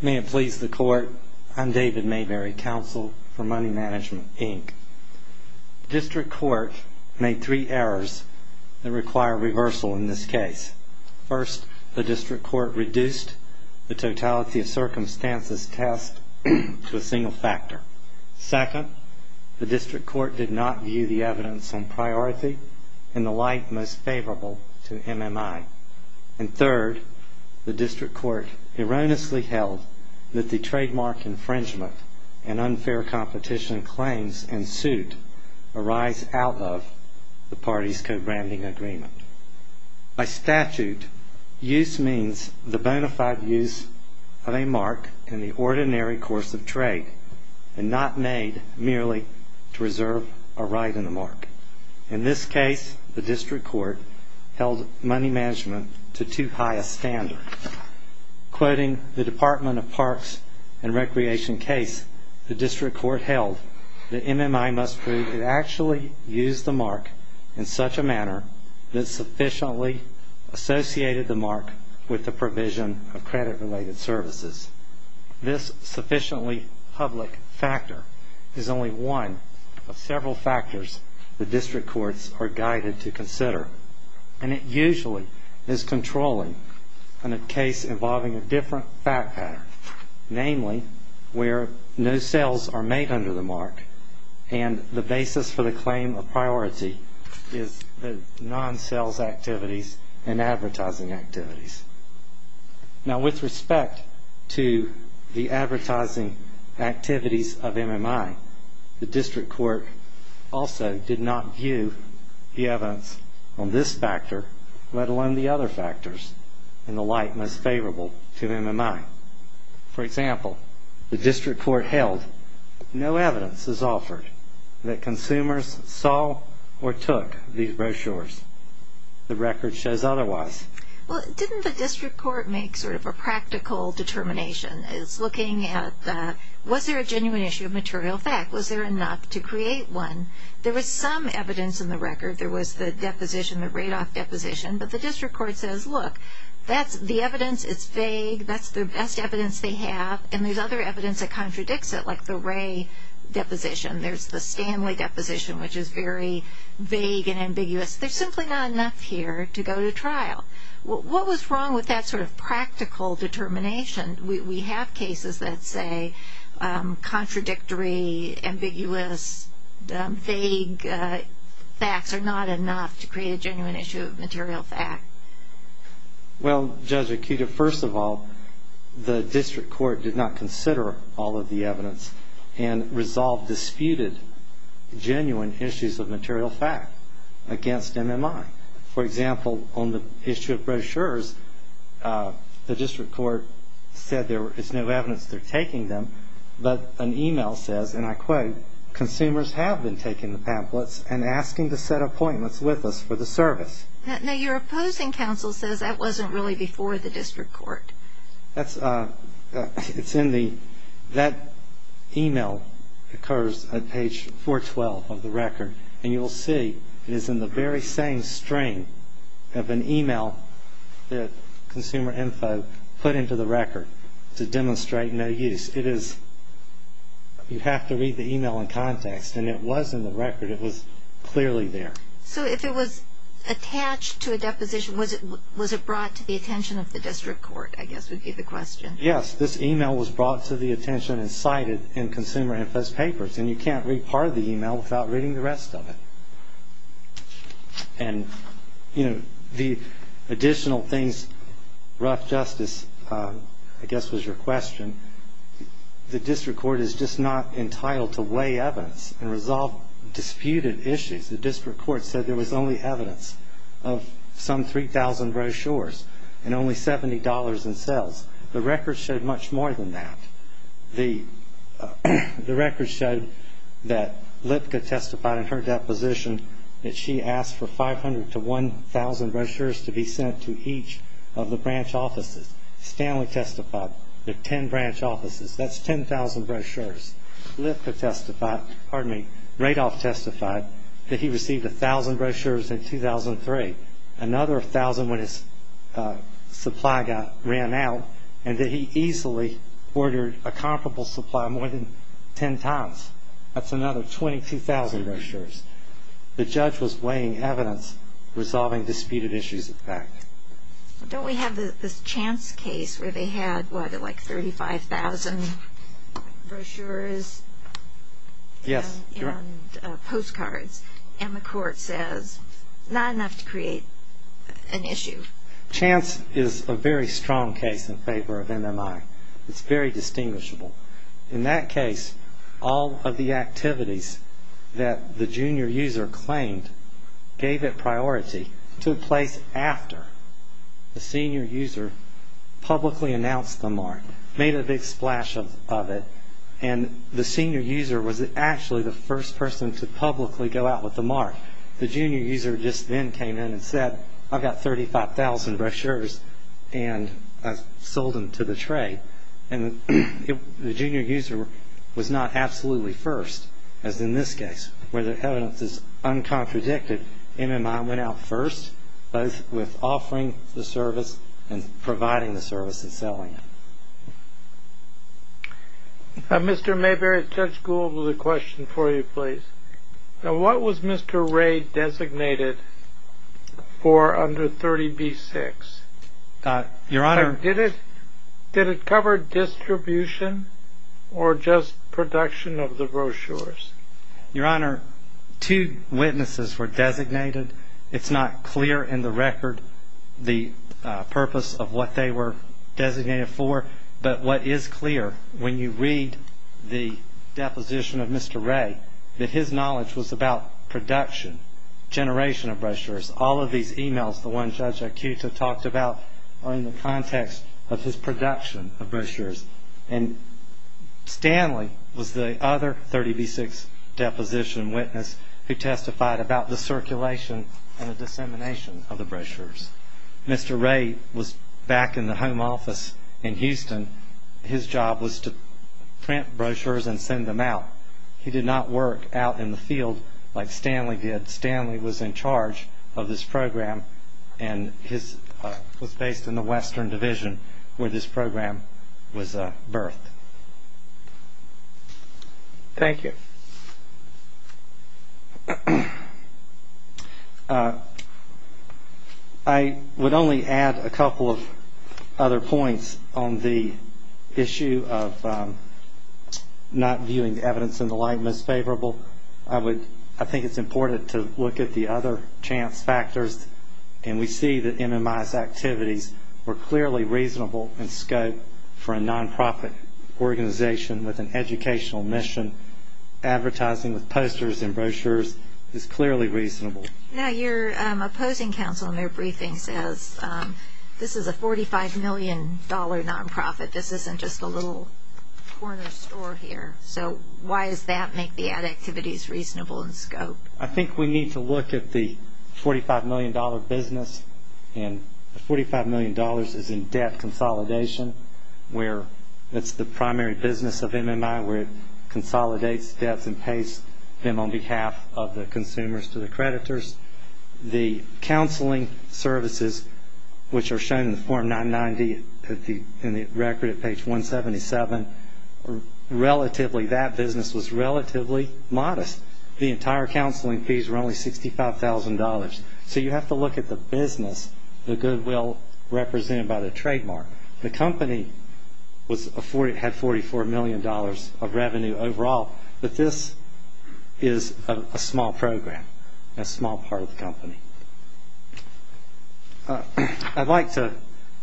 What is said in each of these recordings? May it please the Court, I'm David Mayberry, Counsel for Money Management, Inc. The District Court made three errors that require reversal in this case. First, the District Court reduced the Totality of Circumstances test to a single factor. Second, the District Court did not view the evidence on priority in the light most favorable to MMI. And third, the District Court erroneously held that the trademark infringement and unfair competition claims in suit arise out of the party's co-branding agreement. By statute, use means the bona fide use of a mark in the ordinary course of trade and not made merely to reserve a right in the mark. In this case, the District Court held money management to too high a standard. Quoting the Department of Parks and Recreation case, the District Court held that MMI must prove it actually used the mark in such a manner that sufficiently associated the mark with the provision of credit-related services. This sufficiently public factor is only one of several factors the District Courts are guided to consider. And it usually is controlling in a case involving a different fact pattern, namely where no sales are made under the mark and the basis for the claim of priority is the non-sales activities and advertising activities. Now, with respect to the advertising activities of MMI, the District Court also did not view the evidence on this factor, let alone the other factors in the light most favorable to MMI. For example, the District Court held no evidence is offered that consumers saw or took these brochures. The record shows otherwise. Well, didn't the District Court make sort of a practical determination? It's looking at was there a genuine issue of material fact? Was there enough to create one? There was some evidence in the record. There was the deposition, the Radoff deposition. But the District Court says, look, that's the evidence. It's vague. That's the best evidence they have. And there's other evidence that contradicts it, like the Ray deposition. There's the Stanley deposition, which is very vague and ambiguous. There's simply not enough here to go to trial. What was wrong with that sort of practical determination? We have cases that say contradictory, ambiguous, vague facts are not enough to create a genuine issue of material fact. Well, Judge Akita, first of all, the District Court did not consider all of the evidence and resolved disputed genuine issues of material fact against MMI. For example, on the issue of brochures, the District Court said there is no evidence they're taking them, but an email says, and I quote, consumers have been taking the pamphlets and asking to set appointments with us for the service. No, your opposing counsel says that wasn't really before the District Court. That email occurs on page 412 of the record, and you'll see it is in the very same string of an email that Consumer Info put into the record to demonstrate no use. You have to read the email in context, and it was in the record. It was clearly there. So if it was attached to a deposition, was it brought to the attention of the District Court, I guess would be the question. Yes, this email was brought to the attention and cited in Consumer Info's papers, and you can't read part of the email without reading the rest of it. And, you know, the additional things, Ruff Justice, I guess was your question, the District Court is just not entitled to weigh evidence and resolve disputed issues. The District Court said there was only evidence of some 3,000 brochures and only $70 in sales. The record showed much more than that. The record showed that Lipka testified in her deposition that she asked for 500 to 1,000 brochures to be sent to each of the branch offices. Stanley testified to 10 branch offices. That's 10,000 brochures. Lipka testified, pardon me, Radoff testified that he received 1,000 brochures in 2003, another 1,000 when his supply guy ran out, and that he easily ordered a comparable supply more than 10 times. That's another 22,000 brochures. The judge was weighing evidence, resolving disputed issues of fact. Don't we have this Chance case where they had, what, like 35,000 brochures? Yes. And postcards. And the court says not enough to create an issue. Chance is a very strong case in favor of NMI. It's very distinguishable. In that case, all of the activities that the junior user claimed gave it priority took place after the senior user publicly announced the mark, made a big splash of it, and the senior user was actually the first person to publicly go out with the mark. The junior user just then came in and said, I've got 35,000 brochures, and I've sold them to the trade. And the junior user was not absolutely first, as in this case, where the evidence is uncontradicted. NMI went out first, both with offering the service and providing the service and selling it. Mr. Mayberry, Judge Gould has a question for you, please. What was Mr. Ray designated for under 30B-6? Your Honor. Did it cover distribution or just production of the brochures? Your Honor, two witnesses were designated. It's not clear in the record the purpose of what they were designated for, but what is clear when you read the deposition of Mr. Ray, that his knowledge was about production, generation of brochures. All of these e-mails, the ones Judge Akuta talked about, are in the context of his production of brochures. And Stanley was the other 30B-6 deposition witness who testified about the circulation and the dissemination of the brochures. Mr. Ray was back in the home office in Houston. His job was to print brochures and send them out. He did not work out in the field like Stanley did. Stanley was in charge of this program and was based in the Western Division where this program was birthed. Thank you. I would only add a couple of other points on the issue of not viewing the evidence in the light most favorable. I think it's important to look at the other chance factors, and we see that MMI's activities were clearly reasonable in scope for a nonprofit organization with an educational mission. Advertising with posters and brochures is clearly reasonable. Now, your opposing counsel in their briefing says this is a $45 million nonprofit. This isn't just a little corner store here. So why does that make the ad activities reasonable in scope? I think we need to look at the $45 million business, and the $45 million is in debt consolidation where it's the primary business of MMI where it consolidates debts and pays them on behalf of the consumers to the creditors. The counseling services, which are shown in Form 990 in the record at page 177, relatively, that business was relatively modest. The entire counseling fees were only $65,000. So you have to look at the business, the goodwill represented by the trademark. The company had $44 million of revenue overall, but this is a small program, a small part of the company. I'd like to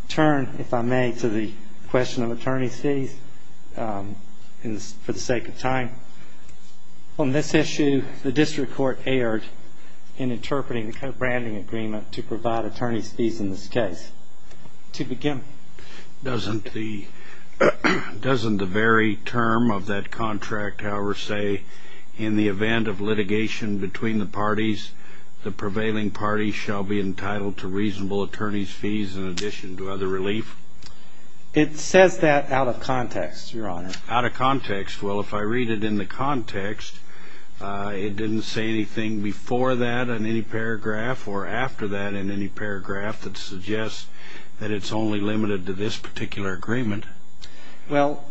turn, if I may, to the question of attorney's fees for the sake of time. On this issue, the district court erred in interpreting the co-branding agreement to provide attorney's fees in this case. To begin with. Doesn't the very term of that contract, however, say, in the event of litigation between the parties, the prevailing party shall be entitled to reasonable attorney's fees in addition to other relief? It says that out of context, Your Honor. Out of context. Well, if I read it in the context, it didn't say anything before that in any paragraph or after that in any paragraph that suggests that it's only limited to this particular agreement. Well,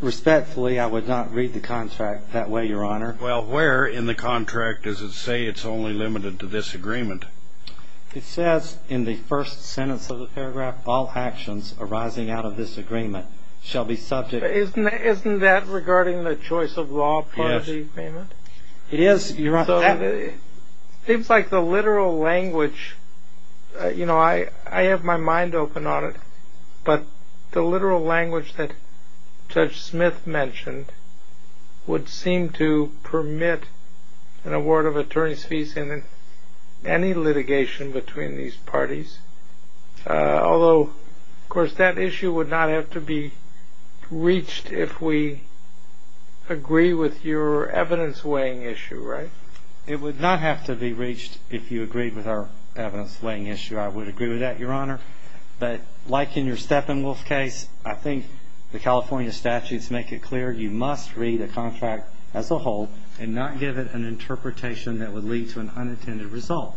respectfully, I would not read the contract that way, Your Honor. Well, where in the contract does it say it's only limited to this agreement? It says in the first sentence of the paragraph, all actions arising out of this agreement shall be subject to Isn't that regarding the choice of law part of the agreement? It is, Your Honor. So it seems like the literal language, you know, I have my mind open on it, but the literal language that Judge Smith mentioned would seem to permit an award of attorney's fees in any litigation between these parties. Although, of course, that issue would not have to be reached if we agree with your evidence weighing issue, right? It would not have to be reached if you agreed with our evidence weighing issue. I would agree with that, Your Honor. But like in your Steppenwolf case, I think the California statutes make it clear you must read a contract as a whole and not give it an interpretation that would lead to an unintended result.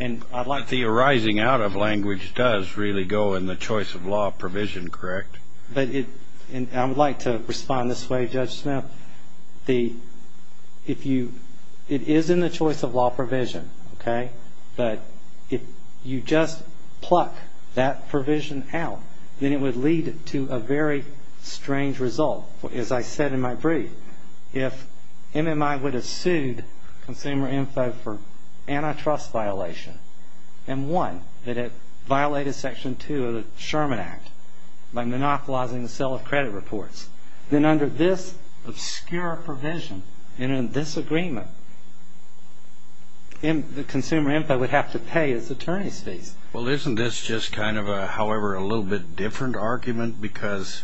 But the arising out of language does really go in the choice of law provision, correct? I would like to respond this way, Judge Smith. It is in the choice of law provision, okay? But if you just pluck that provision out, then it would lead to a very strange result. As I said in my brief, if MMI would have sued Consumer Info for antitrust violation and one, that it violated Section 2 of the Sherman Act by monopolizing the sale of credit reports, then under this obscure provision and in this agreement, Consumer Info would have to pay its attorney's fees. Well, isn't this just kind of a, however, a little bit different argument? Because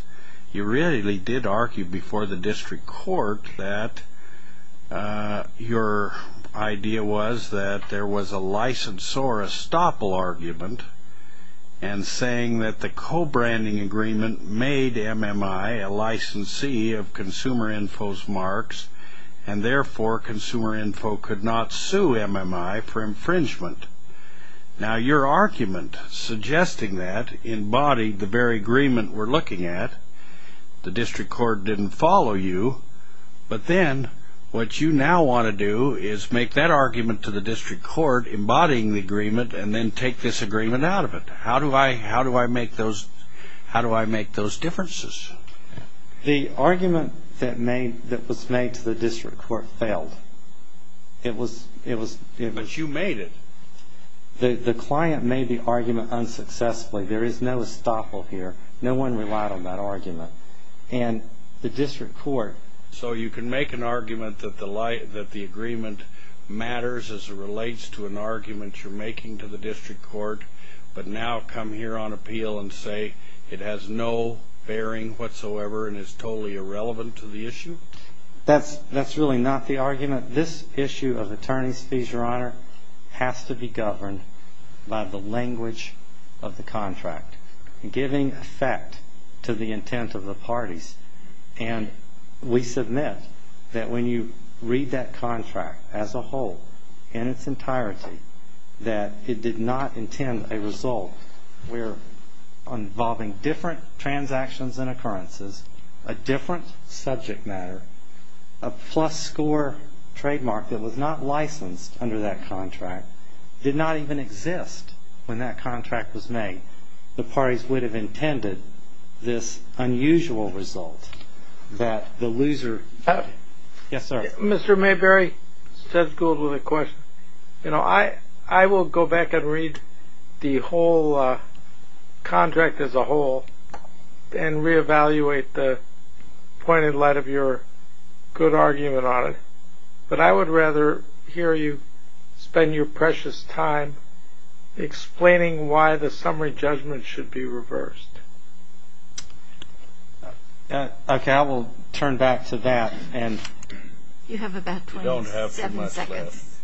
you really did argue before the district court that your idea was that there was a licensor, and saying that the co-branding agreement made MMI a licensee of Consumer Info's marks and therefore Consumer Info could not sue MMI for infringement. Now your argument suggesting that embodied the very agreement we're looking at, the district court didn't follow you, but then what you now want to do is make that argument to the district court embodying the agreement and then take this agreement out of it. How do I make those differences? The argument that was made to the district court failed. But you made it. The client made the argument unsuccessfully. There is no estoppel here. No one relied on that argument. So you can make an argument that the agreement matters as it relates to an argument you're making to the district court, but now come here on appeal and say it has no bearing whatsoever and is totally irrelevant to the issue? That's really not the argument. This issue of attorney's fees, Your Honor, has to be governed by the language of the contract, giving effect to the intent of the parties, and we submit that when you read that contract as a whole, in its entirety, that it did not intend a result where involving different transactions and occurrences, a different subject matter, a plus score trademark that was not licensed under that contract, did not even exist when that contract was made. The parties would have intended this unusual result that the loser. Yes, sir. Mr. Mayberry, said schooled with a question. You know, I will go back and read the whole contract as a whole and reevaluate the point in light of your good argument on it, but I would rather hear you spend your precious time explaining why the summary judgment should be reversed. Okay, I will turn back to that. You have about 27 seconds.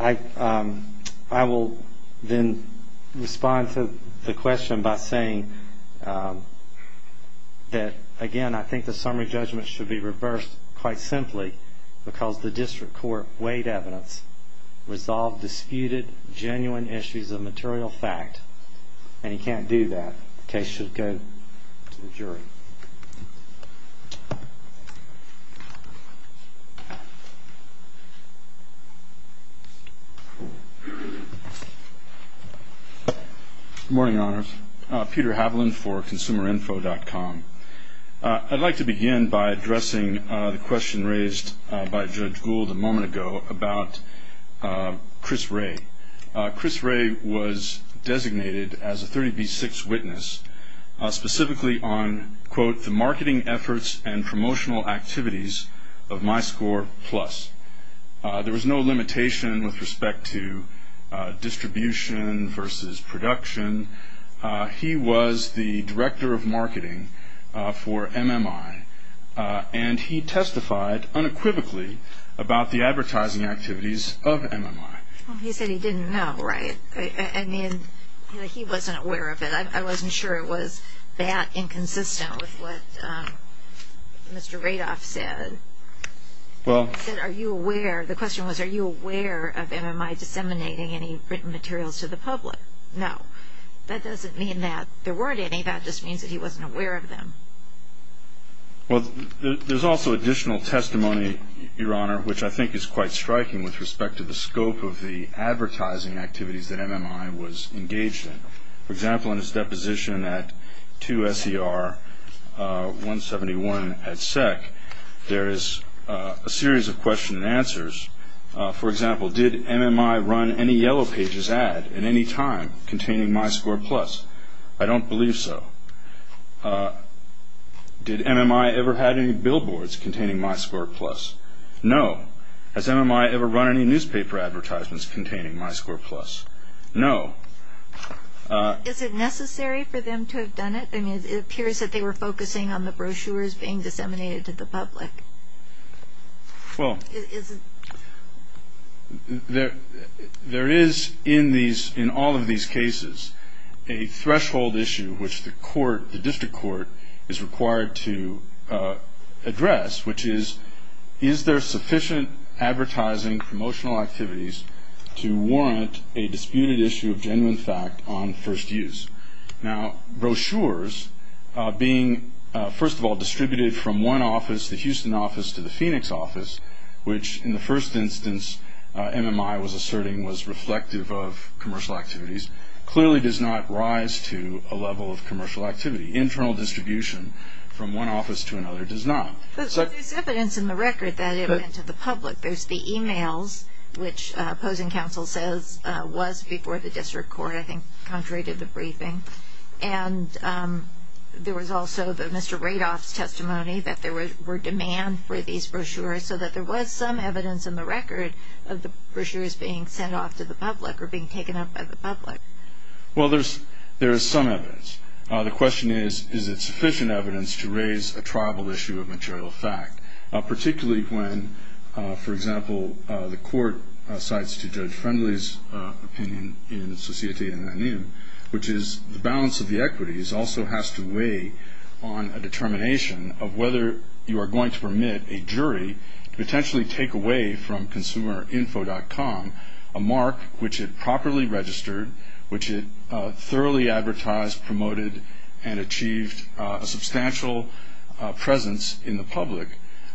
I will then respond to the question by saying that, again, I think the summary judgment should be reversed quite simply because the district court weighed evidence, resolved disputed genuine issues of material fact, and he can't do that. The case should go to the jury. Good morning, Your Honors. Peter Haviland for ConsumerInfo.com. I'd like to begin by addressing the question raised by Judge Gould a moment ago about Chris Ray. Chris Ray was designated as a 30B6 witness specifically on, quote, the marketing efforts and promotional activities of MyScore Plus. There was no limitation with respect to distribution versus production. He was the director of marketing for MMI, and he testified unequivocally about the advertising activities of MMI. He said he didn't know, right? I mean, he wasn't aware of it. I wasn't sure it was that inconsistent with what Mr. Radoff said. He said, are you aware? The question was, are you aware of MMI disseminating any written materials to the public? No. That doesn't mean that there weren't any. That just means that he wasn't aware of them. Well, there's also additional testimony, Your Honor, which I think is quite striking with respect to the scope of the advertising activities that MMI was engaged in. For example, in his deposition at 2SER 171 at SEC, there is a series of questions and answers. For example, did MMI run any Yellow Pages ad at any time containing MyScore Plus? I don't believe so. Did MMI ever had any billboards containing MyScore Plus? No. Has MMI ever run any newspaper advertisements containing MyScore Plus? No. Is it necessary for them to have done it? I mean, it appears that they were focusing on the brochures being disseminated to the public. Well, there is in all of these cases a threshold issue which the court, the district court, is required to address, which is is there sufficient advertising promotional activities to warrant a disputed issue of genuine fact on first use? Now, brochures being, first of all, distributed from one office, the Houston office, to the Phoenix office, which in the first instance MMI was asserting was reflective of commercial activities, clearly does not rise to a level of commercial activity. Internal distribution from one office to another does not. But there's evidence in the record that it went to the public. There's the e-mails, which opposing counsel says was before the district court, I think, contrary to the briefing. And there was also the Mr. Radoff's testimony that there were demands for these brochures so that there was some evidence in the record of the brochures being sent off to the public or being taken up by the public. Well, there is some evidence. The question is, is it sufficient evidence to raise a tribal issue of material fact, particularly when, for example, the court cites to Judge Friendly's opinion in Societe Anun, which is the balance of the equities also has to weigh on a determination of whether you are going to permit a jury to potentially take away from ConsumerInfo.com a mark which it properly registered, which it thoroughly advertised, promoted, and achieved a substantial presence in the public.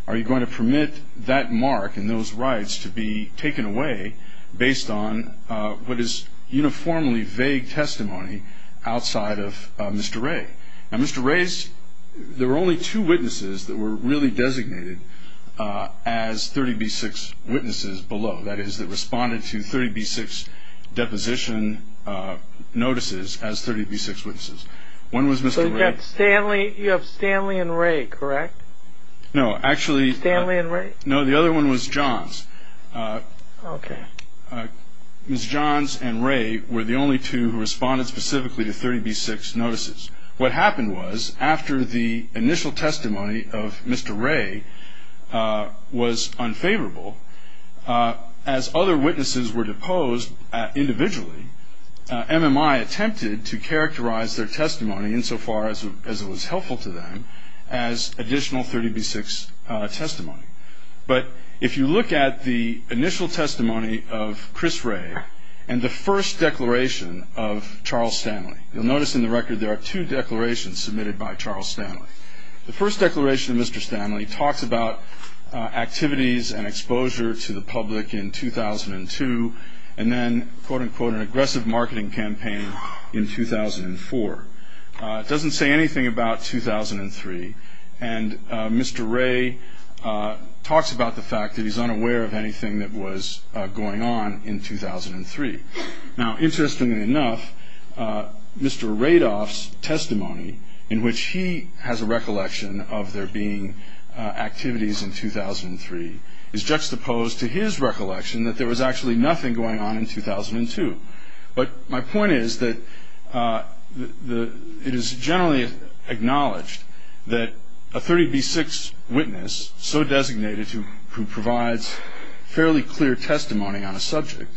Are you going to permit that mark and those rights to be taken away based on what is uniformly vague testimony outside of Mr. Ray? Now, Mr. Ray's, there were only two witnesses that were really designated as 30B6 witnesses below. That is, that responded to 30B6 deposition notices as 30B6 witnesses. One was Mr. Ray. So you have Stanley and Ray, correct? No, actually. Stanley and Ray? No, the other one was Johns. Okay. Ms. Johns and Ray were the only two who responded specifically to 30B6 notices. What happened was after the initial testimony of Mr. Ray was unfavorable, as other witnesses were deposed individually, MMI attempted to characterize their testimony insofar as it was helpful to them as additional 30B6 testimony. But if you look at the initial testimony of Chris Ray and the first declaration of Charles Stanley, you'll notice in the record there are two declarations submitted by Charles Stanley. The first declaration of Mr. Stanley talks about activities and exposure to the public in 2002, and then, quote, unquote, an aggressive marketing campaign in 2004. It doesn't say anything about 2003. And Mr. Ray talks about the fact that he's unaware of anything that was going on in 2003. Now, interestingly enough, Mr. Radoff's testimony, in which he has a recollection of there being activities in 2003, is juxtaposed to his recollection that there was actually nothing going on in 2002. But my point is that it is generally acknowledged that a 30B6 witness so designated who provides fairly clear testimony on a subject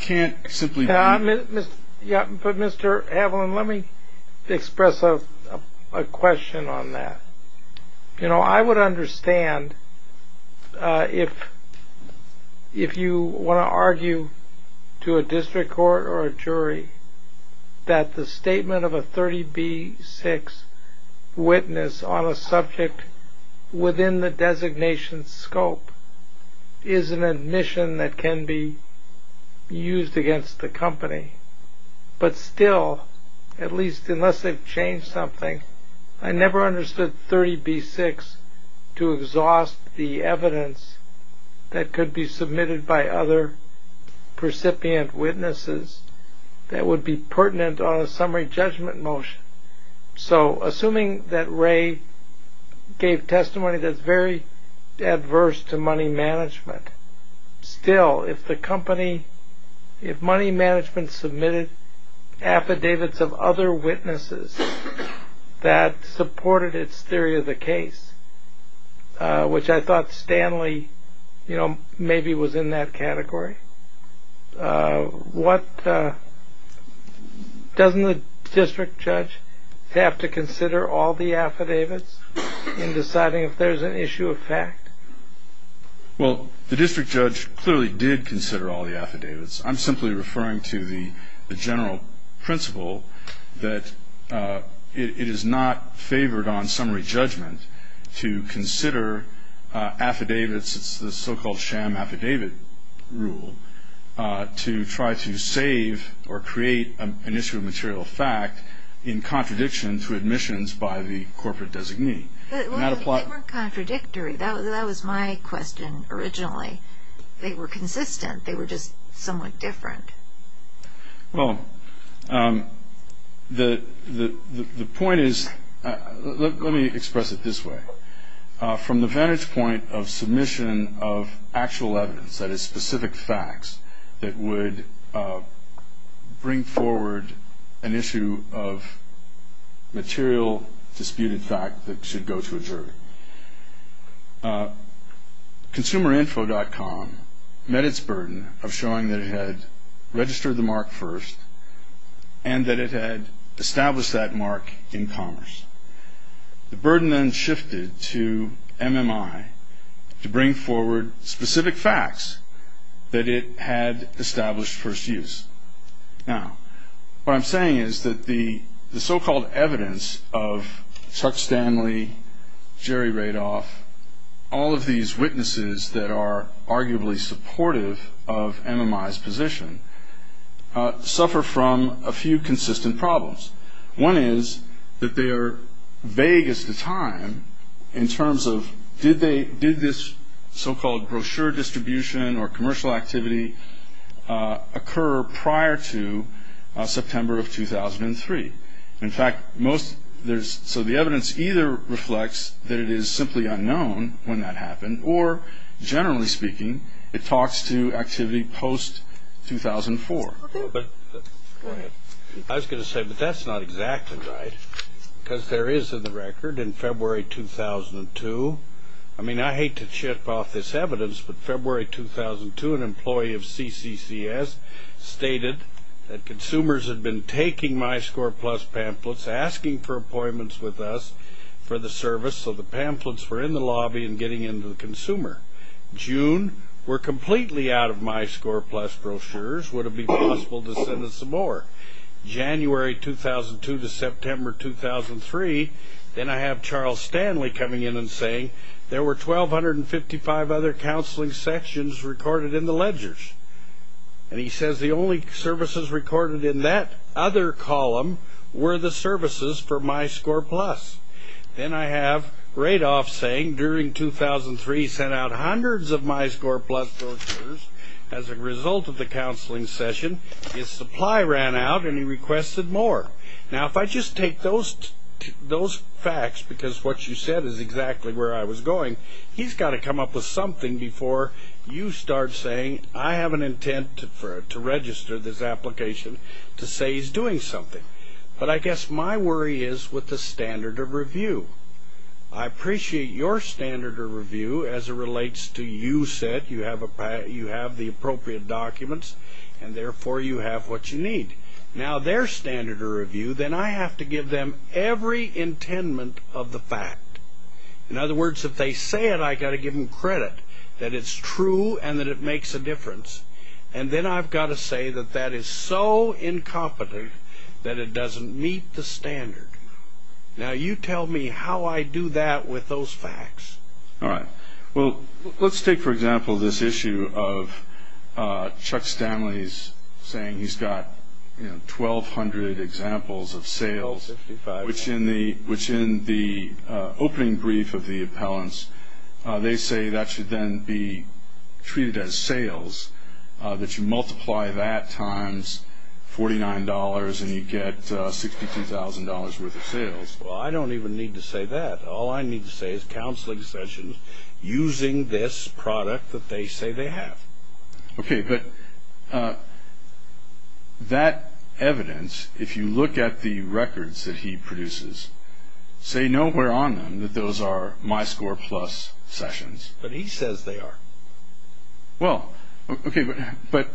can't simply be. But, Mr. Haviland, let me express a question on that. You know, I would understand if you want to argue to a district court or a jury that the statement of a 30B6 witness on a subject within the designation scope is an admission that can be used against the company. But still, at least unless they've changed something, I never understood 30B6 to exhaust the evidence that could be submitted by other recipient witnesses that would be pertinent on a summary judgment motion. So, assuming that Ray gave testimony that's very adverse to money management, still, if the company, if money management submitted affidavits of other witnesses that supported its theory of the case, which I thought Stanley, you know, maybe was in that category, doesn't the district judge have to consider all the affidavits in deciding if there's an issue of fact? Well, the district judge clearly did consider all the affidavits. I'm simply referring to the general principle that it is not favored on summary judgment to consider affidavits. It's the so-called sham affidavit rule to try to save or create an issue of material fact in contradiction to admissions by the corporate designee. They weren't contradictory. That was my question originally. They were consistent. They were just somewhat different. Well, the point is, let me express it this way. From the vantage point of submission of actual evidence, that is, specific facts, that would bring forward an issue of material disputed fact that should go to a jury. Consumerinfo.com met its burden of showing that it had registered the mark first and that it had established that mark in commerce. The burden then shifted to MMI to bring forward specific facts that it had established first use. Now, what I'm saying is that the so-called evidence of Chuck Stanley, Jerry Radoff, all of these witnesses that are arguably supportive of MMI's position, suffer from a few consistent problems. One is that they are vague as to time in terms of did this so-called brochure distribution or commercial activity occur prior to September of 2003. In fact, so the evidence either reflects that it is simply unknown when that happened, or generally speaking, it talks to activity post-2004. Go ahead. I was going to say, but that's not exactly right, because there is a record in February 2002. I mean, I hate to chip off this evidence, but February 2002 an employee of CCCS stated that consumers had been taking MyScorePlus pamphlets, asking for appointments with us for the service, so the pamphlets were in the lobby and getting into the consumer. June, we're completely out of MyScorePlus brochures. Would it be possible to send us some more? January 2002 to September 2003, then I have Charles Stanley coming in and saying, there were 1,255 other counseling sections recorded in the ledgers, and he says the only services recorded in that other column were the services for MyScorePlus. Then I have Radoff saying during 2003 he sent out hundreds of MyScorePlus brochures. As a result of the counseling session, his supply ran out and he requested more. Now, if I just take those facts, because what you said is exactly where I was going, he's got to come up with something before you start saying, I have an intent to register this application to say he's doing something. But I guess my worry is with the standard of review. I appreciate your standard of review as it relates to you said you have the appropriate documents, and therefore you have what you need. Now, their standard of review, then I have to give them every intent of the fact. In other words, if they say it, I've got to give them credit that it's true and that it makes a difference. And then I've got to say that that is so incompetent that it doesn't meet the standard. Now, you tell me how I do that with those facts. All right. Well, let's take, for example, this issue of Chuck Stanley's saying he's got 1,200 examples of sales, which in the opening brief of the appellants, they say that should then be treated as sales, that you multiply that times $49 and you get $62,000 worth of sales. Well, I don't even need to say that. All I need to say is counseling sessions using this product that they say they have. Okay. But that evidence, if you look at the records that he produces, say nowhere on them that those are my score plus sessions. But he says they are. Well, okay, but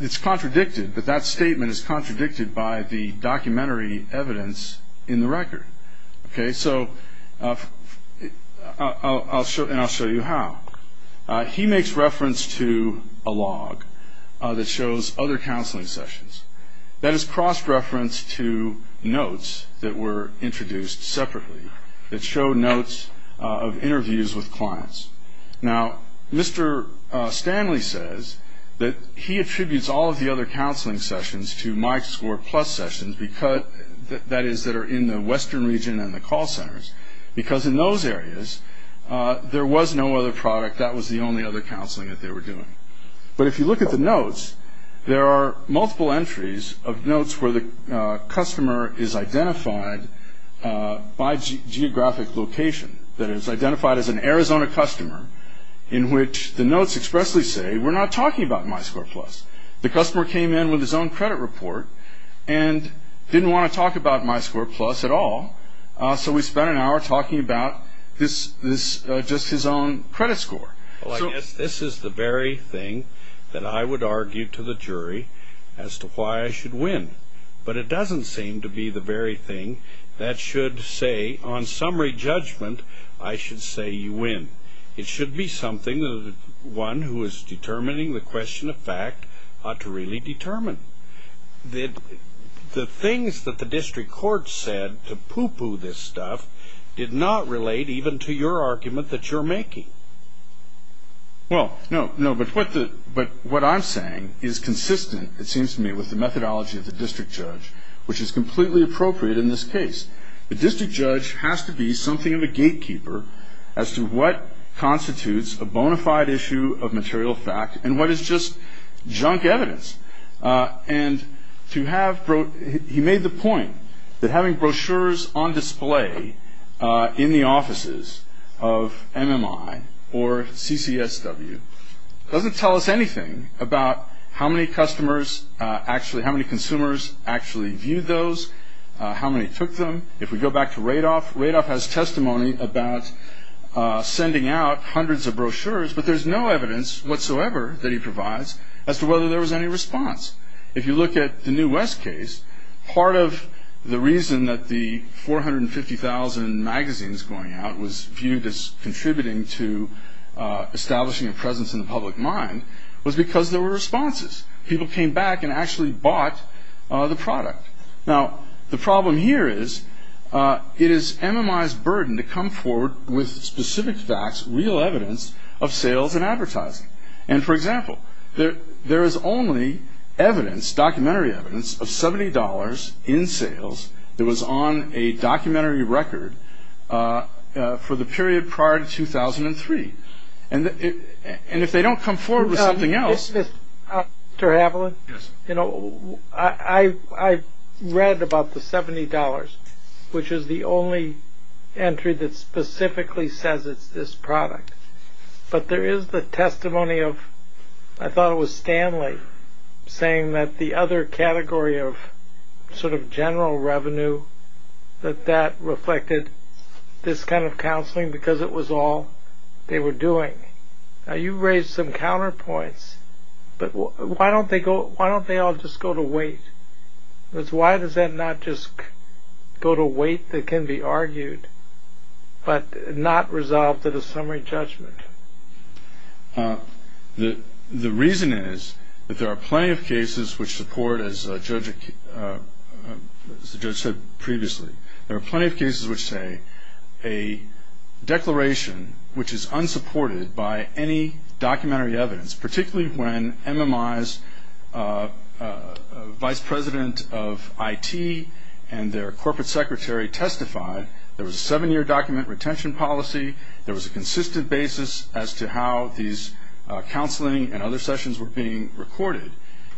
it's contradicted, but that statement is contradicted by the documentary evidence in the record. Okay. So I'll show you how. He makes reference to a log that shows other counseling sessions. That is cross-reference to notes that were introduced separately that show notes of interviews with clients. Now, Mr. Stanley says that he attributes all of the other counseling sessions to my score plus sessions, that is that are in the western region and the call centers, because in those areas there was no other product. That was the only other counseling that they were doing. But if you look at the notes, there are multiple entries of notes where the customer is identified by geographic location, that is identified as an Arizona customer in which the notes expressly say, we're not talking about my score plus. The customer came in with his own credit report and didn't want to talk about my score plus at all, so we spent an hour talking about just his own credit score. Well, I guess this is the very thing that I would argue to the jury as to why I should win, but it doesn't seem to be the very thing that should say, on summary judgment, I should say you win. It should be something that one who is determining the question of fact ought to really determine. The things that the district court said to poo-poo this stuff did not relate even to your argument that you're making. Well, no, but what I'm saying is consistent, it seems to me, with the methodology of the district judge, which is completely appropriate in this case. The district judge has to be something of a gatekeeper as to what constitutes a bona fide issue of material fact and what is just junk evidence. He made the point that having brochures on display in the offices of MMI or CCSW doesn't tell us anything about how many consumers actually viewed those, how many took them. If we go back to Radoff, Radoff has testimony about sending out hundreds of brochures, but there's no evidence whatsoever that he provides as to whether there was any response. If you look at the New West case, part of the reason that the 450,000 magazines going out was viewed as contributing to establishing a presence in the public mind was because there were responses. People came back and actually bought the product. Now, the problem here is it is MMI's burden to come forward with specific facts, real evidence of sales and advertising. And, for example, there is only evidence, documentary evidence, of $70 in sales that was on a documentary record for the period prior to 2003. And if they don't come forward with something else... Mr. Haviland? Yes. You know, I read about the $70, which is the only entry that specifically says it's this product, but there is the testimony of, I thought it was Stanley, saying that the other category of sort of general revenue, that that reflected this kind of counseling because it was all they were doing. Now, you raised some counterpoints, but why don't they all just go to wait? Why does that not just go to wait that can be argued, but not resolved at a summary judgment? The reason is that there are plenty of cases which support, as the judge said previously, there are plenty of cases which say a declaration which is unsupported by any documentary evidence, particularly when MMI's vice president of IT and their corporate secretary testified that there was a seven-year document retention policy, there was a consistent basis as to how these counseling and other sessions were being recorded.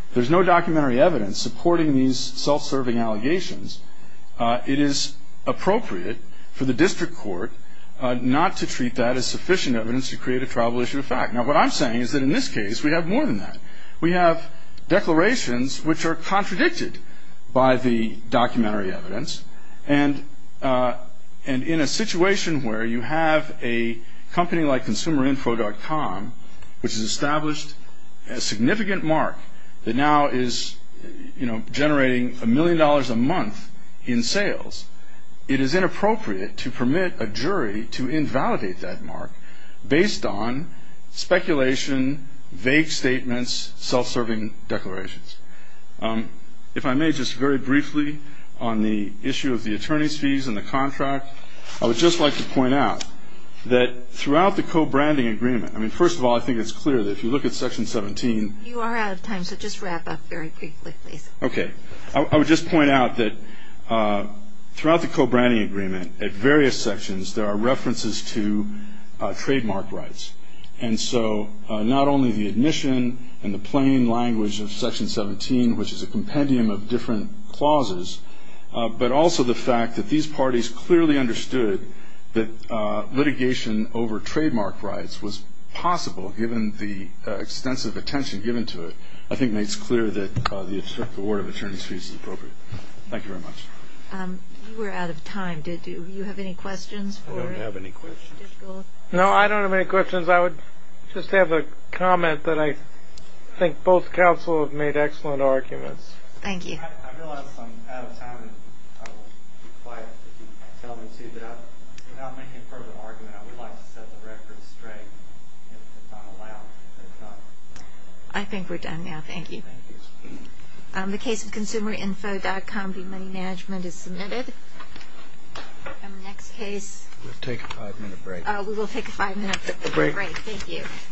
If there's no documentary evidence supporting these self-serving allegations, it is appropriate for the district court not to treat that as sufficient evidence to create a triable issue of fact. Now, what I'm saying is that in this case we have more than that. We have declarations which are contradicted by the documentary evidence, and in a situation where you have a company like consumerinfo.com, which has established a significant mark that now is generating a million dollars a month in sales, it is inappropriate to permit a jury to invalidate that mark based on speculation, vague statements, self-serving declarations. If I may, just very briefly on the issue of the attorney's fees and the contract, I would just like to point out that throughout the co-branding agreement, I mean, first of all, I think it's clear that if you look at Section 17. You are out of time, so just wrap up very briefly, please. Okay. I would just point out that throughout the co-branding agreement, at various sections, there are references to trademark rights. And so not only the admission and the plain language of Section 17, which is a compendium of different clauses, but also the fact that these parties clearly understood that litigation over trademark rights was possible, given the extensive attention given to it, I think makes clear that the award of attorney's fees is appropriate. Thank you very much. You were out of time, did you? Do you have any questions? I don't have any questions. No, I don't have any questions. I would just have a comment that I think both counsel have made excellent arguments. Thank you. I realize I'm out of time, and I will be quiet if you tell me to, but without making a further argument, I would like to set the record straight if it's not allowed. I think we're done now. Thank you. Thank you. The case of consumerinfo.com v. Money Management is submitted. Next case. We'll take a five-minute break. We will take a five-minute break. Thank you.